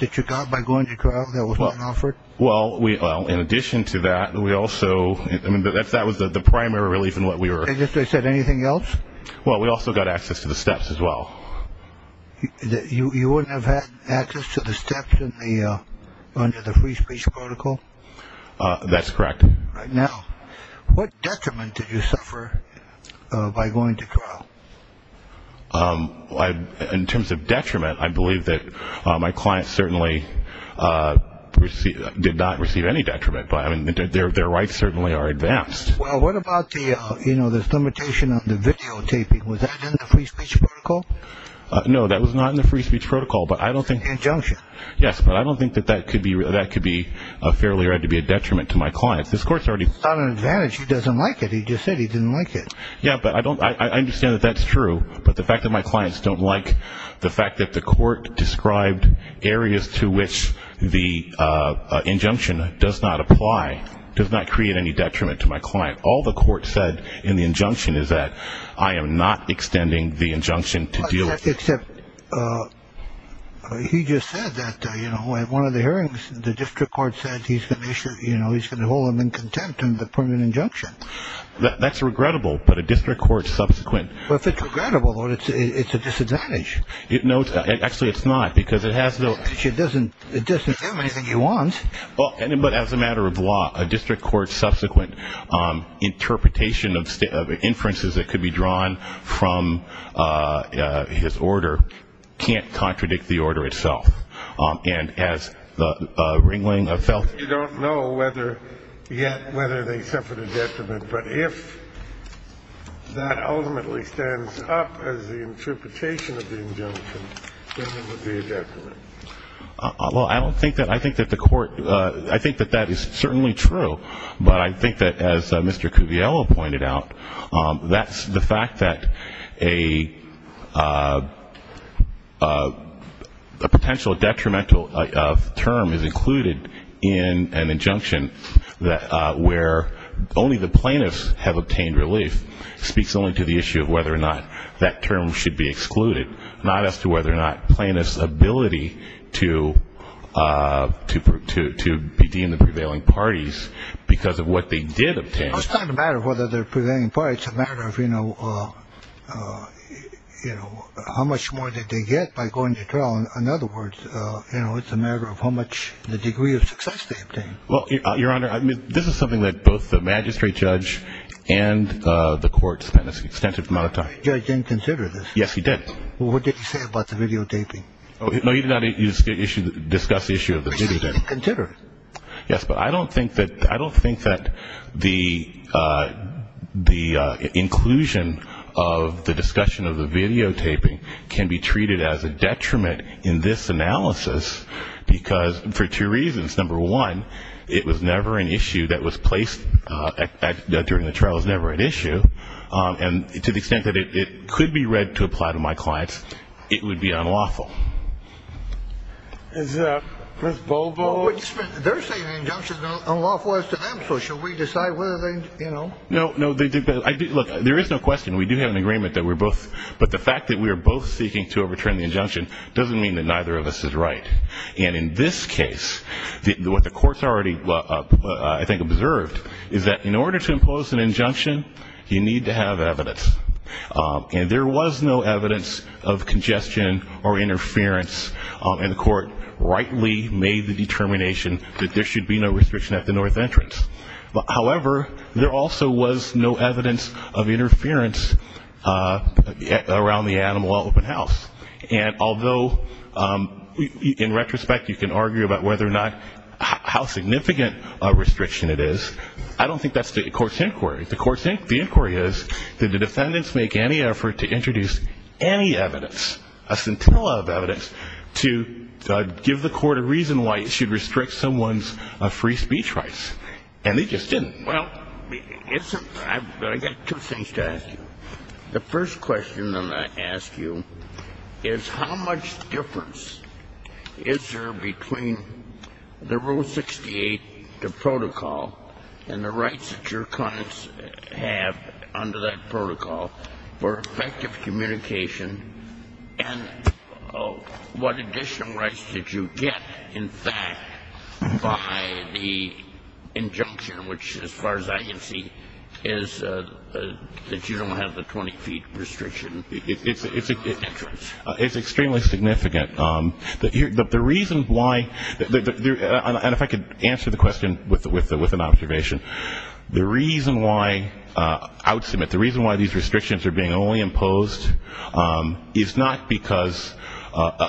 that you got by going to trial that was not offered? Well, in addition to that, we also ‑‑ I mean, that was the primary relief in what we were ‑‑ Did they say anything else? Well, we also got access to the steps as well. You wouldn't have had access to the steps under the free speech protocol? That's correct. Now, what detriment did you suffer by going to trial? In terms of detriment, I believe that my clients certainly did not receive any detriment. I mean, their rights certainly are advanced. Well, what about the, you know, this limitation on the videotaping? Was that in the free speech protocol? No, that was not in the free speech protocol, but I don't think ‑‑ In the injunction. Yes, but I don't think that that could be fairly read to be a detriment to my clients. This court's already ‑‑ It's not an advantage. He doesn't like it. He just said he didn't like it. Yeah, but I don't ‑‑ I understand that that's true, but the fact that my clients don't like the fact that the court described areas to which the injunction does not apply, does not create any detriment to my client. All the court said in the injunction is that I am not extending the injunction to deal with this. Except he just said that, you know, at one of the hearings, the district court said he's going to hold him in contempt in the permanent injunction. That's regrettable, but a district court subsequent ‑‑ Well, if it's regrettable, it's a disadvantage. No, actually it's not, because it has no ‑‑ It doesn't do him anything he wants. But as a matter of law, a district court subsequent interpretation of inferences that could be drawn from his order can't contradict the order itself. And as the Ringling felt ‑‑ You don't know whether ‑‑ yet whether they suffered a detriment, but if that ultimately stands up as the interpretation of the injunction, then it would be a detriment. Well, I don't think that ‑‑ I think that the court ‑‑ I think that that is certainly true, but I think that as Mr. Cuviello pointed out, that's the fact that a potential detrimental term is included in an injunction where only the plaintiffs have obtained relief. It speaks only to the issue of whether or not that term should be excluded, not as to whether or not plaintiffs' ability to be deemed the prevailing parties because of what they did obtain. Well, it's not a matter of whether they're prevailing parties. It's a matter of, you know, how much more did they get by going to trial. In other words, you know, it's a matter of how much the degree of success they obtained. Well, Your Honor, this is something that both the magistrate judge and the court spent an extensive amount of time. The judge didn't consider this. Yes, he did. Well, what did he say about the videotaping? No, he did not discuss the issue of the videotaping. He didn't consider it. Yes, but I don't think that the inclusion of the discussion of the videotaping can be treated as a detriment in this analysis because for two reasons. Number one, it was never an issue that was placed during the trial. It was never an issue. And to the extent that it could be read to apply to my clients, it would be unlawful. Is that Ms. Bobo? They're saying the injunction is unlawful as to them, so should we decide whether they, you know? No, no. Look, there is no question. We do have an agreement that we're both. But the fact that we are both seeking to overturn the injunction doesn't mean that neither of us is right. And in this case, what the courts already, I think, observed is that in order to impose an injunction, you need to have evidence. And there was no evidence of congestion or interference, and the court rightly made the determination that there should be no restriction at the north entrance. However, there also was no evidence of interference around the Animal Open House. And although, in retrospect, you can argue about whether or not, how significant a restriction it is, I don't think that's the court's inquiry. The court's inquiry is did the defendants make any effort to introduce any evidence, a scintilla of evidence, to give the court a reason why it should restrict someone's free speech rights? And they just didn't. Well, I've got two things to ask you. The first question I'm going to ask you is how much difference is there between the Rule 68, the protocol, and the rights that your clients have under that protocol for effective communication, and what additional rights did you get, in fact, by the injunction, which as far as I can see is that you don't have the 20-feet restriction at the entrance? It's extremely significant. The reason why, and if I could answer the question with an observation, the reason why I would submit, the reason why these restrictions are being only imposed is not because,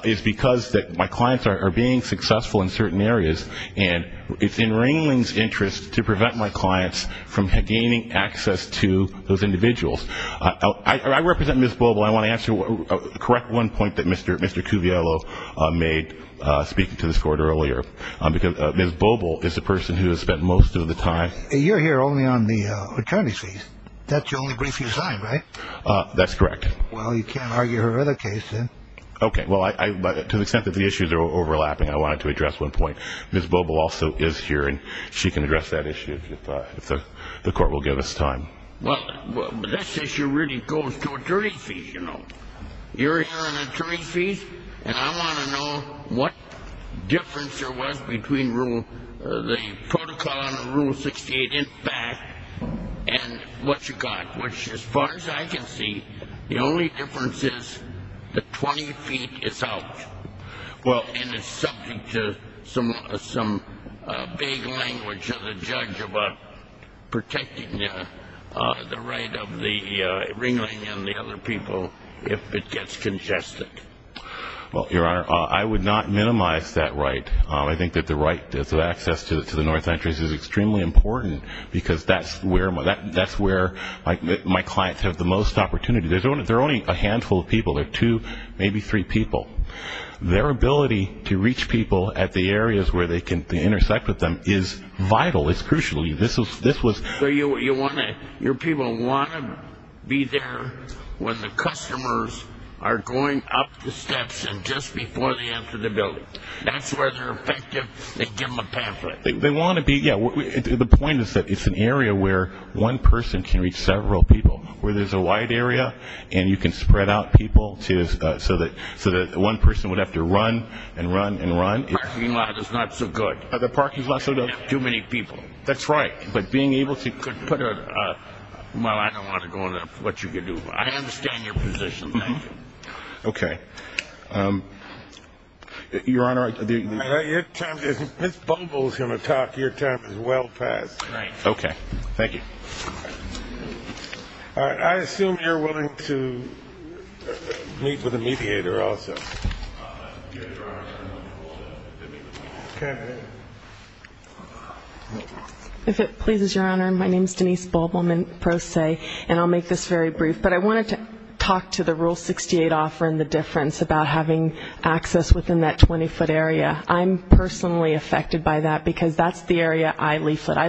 is because my clients are being successful in certain areas, and it's in Ringling's interest to prevent my clients from gaining access to those individuals. I represent Ms. Bobel. I want to answer the correct one point that Mr. Cuviello made speaking to this court earlier, because Ms. Bobel is the person who has spent most of the time. You're here only on the attorney's fees. That's the only brief you signed, right? That's correct. Well, you can't argue her other case, then. Okay. Well, to the extent that the issues are overlapping, I wanted to address one point. Ms. Bobel also is here, and she can address that issue if the court will give us time. Well, this issue really goes to attorney's fees, you know. You're here on attorney's fees, and I want to know what difference there was between the protocol under Rule 68 in fact and what you got, which, as far as I can see, the only difference is the 20 feet is out. And it's subject to some vague language of the judge about protecting the right of the ringling and the other people if it gets congested. Well, Your Honor, I would not minimize that right. I think that the right to access to the North Entrance is extremely important, because that's where my clients have the most opportunity. They're only a handful of people. They're two, maybe three people. Their ability to reach people at the areas where they can intersect with them is vital. It's crucial. Your people want to be there when the customers are going up the steps and just before they enter the building. That's where they're effective. They give them a pamphlet. The point is that it's an area where one person can reach several people. Where there's a wide area and you can spread out people so that one person would have to run and run and run. The parking lot is not so good. The parking lot is not so good. Too many people. That's right. But being able to put a, well, I don't want to go into what you can do. I understand your position. Thank you. Okay. Your Honor, I do. Your time is, Ms. Bogle is going to talk. Your time is well past. Right. Okay. Thank you. All right. I assume you're willing to meet with a mediator also. If it pleases Your Honor, my name is Denise Bogle, and I'll make this very brief. But I wanted to talk to the Rule 68 offer and the difference about having access within that 20-foot area. I'm personally affected by that because that's the area I leaflet. And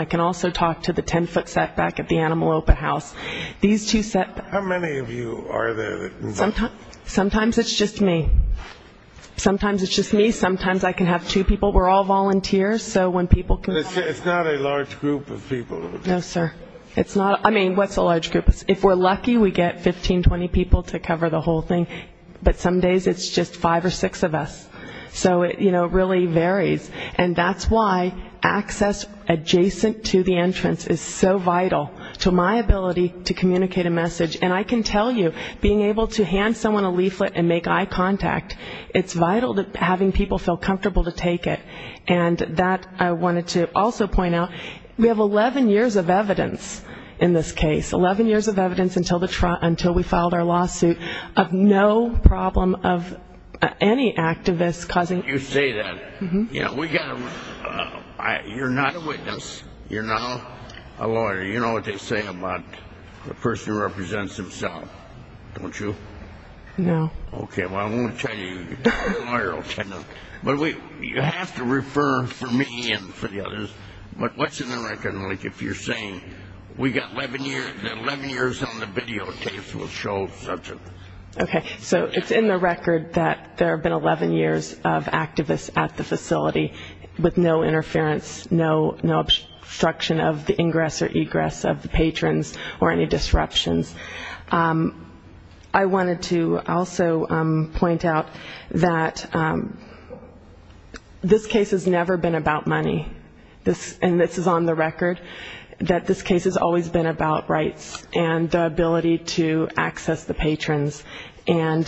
I can also talk to the 10-foot setback at the Animal Open House. How many of you are there? Sometimes it's just me. Sometimes it's just me. Sometimes I can have two people. We're all volunteers. It's not a large group of people. No, sir. I mean, what's a large group? If we're lucky, we get 15, 20 people to cover the whole thing. But some days it's just five or six of us. So, you know, it really varies. And that's why access adjacent to the entrance is so vital to my ability to communicate a message. And I can tell you, being able to hand someone a leaflet and make eye contact, it's vital to having people feel comfortable to take it. And that I wanted to also point out, we have 11 years of evidence in this case, 11 years of evidence until we filed our lawsuit of no problem of any activist causing. You say that. You're not a witness. You're not a lawyer. You know what they say about a person who represents himself, don't you? No. Okay. Well, I won't tell you. Your lawyer will tell you. But you have to refer for me and for the others. But what's in the record? Like, if you're saying we got 11 years, the 11 years on the videotapes will show such a thing. Okay. So it's in the record that there have been 11 years of activists at the facility with no interference, no obstruction of the ingress or egress of the patrons or any disruptions. I wanted to also point out that this case has never been about money, and this is on the record, that this case has always been about rights and the ability to access the patrons. And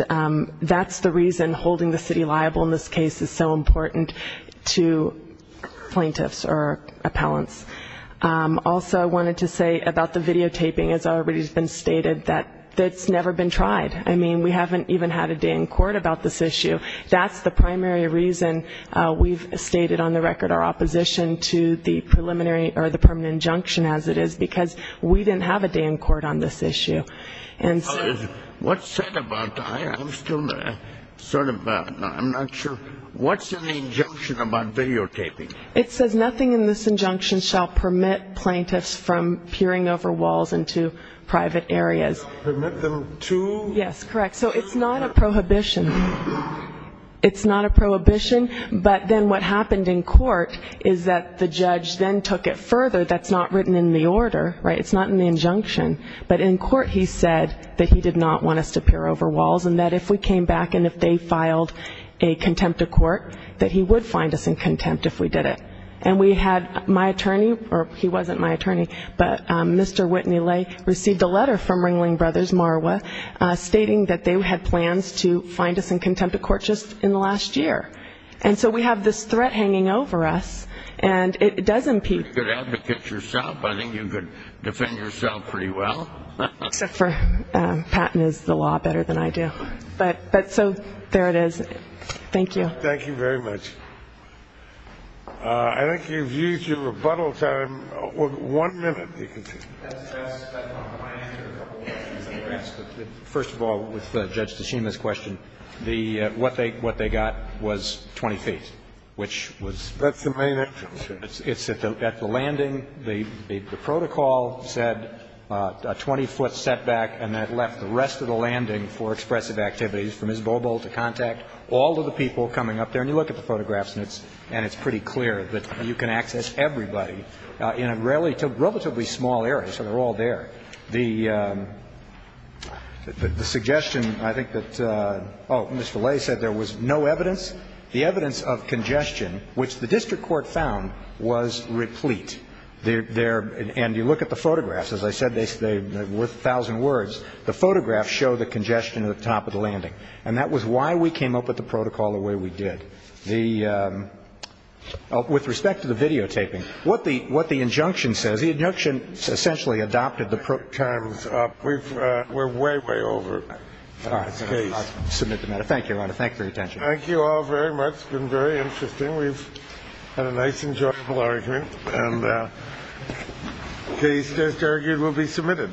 that's the reason holding the city liable in this case is so important to plaintiffs or appellants. Also, I wanted to say about the videotaping, as already has been stated, that it's never been tried. I mean, we haven't even had a day in court about this issue. That's the primary reason we've stated on the record our opposition to the preliminary or the permanent injunction as it is, because we didn't have a day in court on this issue. What's said about that? I'm not sure. What's in the injunction about videotaping? It says nothing in this injunction shall permit plaintiffs from peering over walls into private areas. Permit them to? Yes, correct. So it's not a prohibition. It's not a prohibition, but then what happened in court is that the judge then took it further. That's not written in the order, right? It's not in the injunction. But in court he said that he did not want us to peer over walls and that if we came back and if they filed a contempt of court, that he would find us in contempt if we did it. And we had my attorney, or he wasn't my attorney, but Mr. Whitney Lay received a letter from Ringling Brothers Marwa stating that they had plans to find us in contempt of court just in the last year. And so we have this threat hanging over us, and it does impede. You're a good advocate yourself. I think you could defend yourself pretty well. Except for Patton is the law better than I do. But so there it is. Thank you. Thank you very much. I think you've used your rebuttal time. One minute. First of all, with Judge Tashima's question, the what they got was 20 feet, which was That's the main action. It's at the landing. The protocol said a 20-foot setback, and that left the rest of the landing for expressive activities, from Ms. Bobo to contact, all of the people coming up there. And you look at the photographs, and it's pretty clear that you can access everybody in a relatively small area, so they're all there. The suggestion, I think that Mr. Lay said there was no evidence. The evidence of congestion, which the district court found, was replete. And you look at the photographs. As I said, they're worth a thousand words. The photographs show the congestion at the top of the landing. And that was why we came up with the protocol the way we did. With respect to the videotaping, what the injunction says. The injunction essentially adopted the terms up. We're way, way over. I'll submit the matter. Thank you, Your Honor. Thank you for your attention. Thank you all very much. It's been very interesting. We've had a nice, enjoyable argument. And the case, just argued, will be submitted.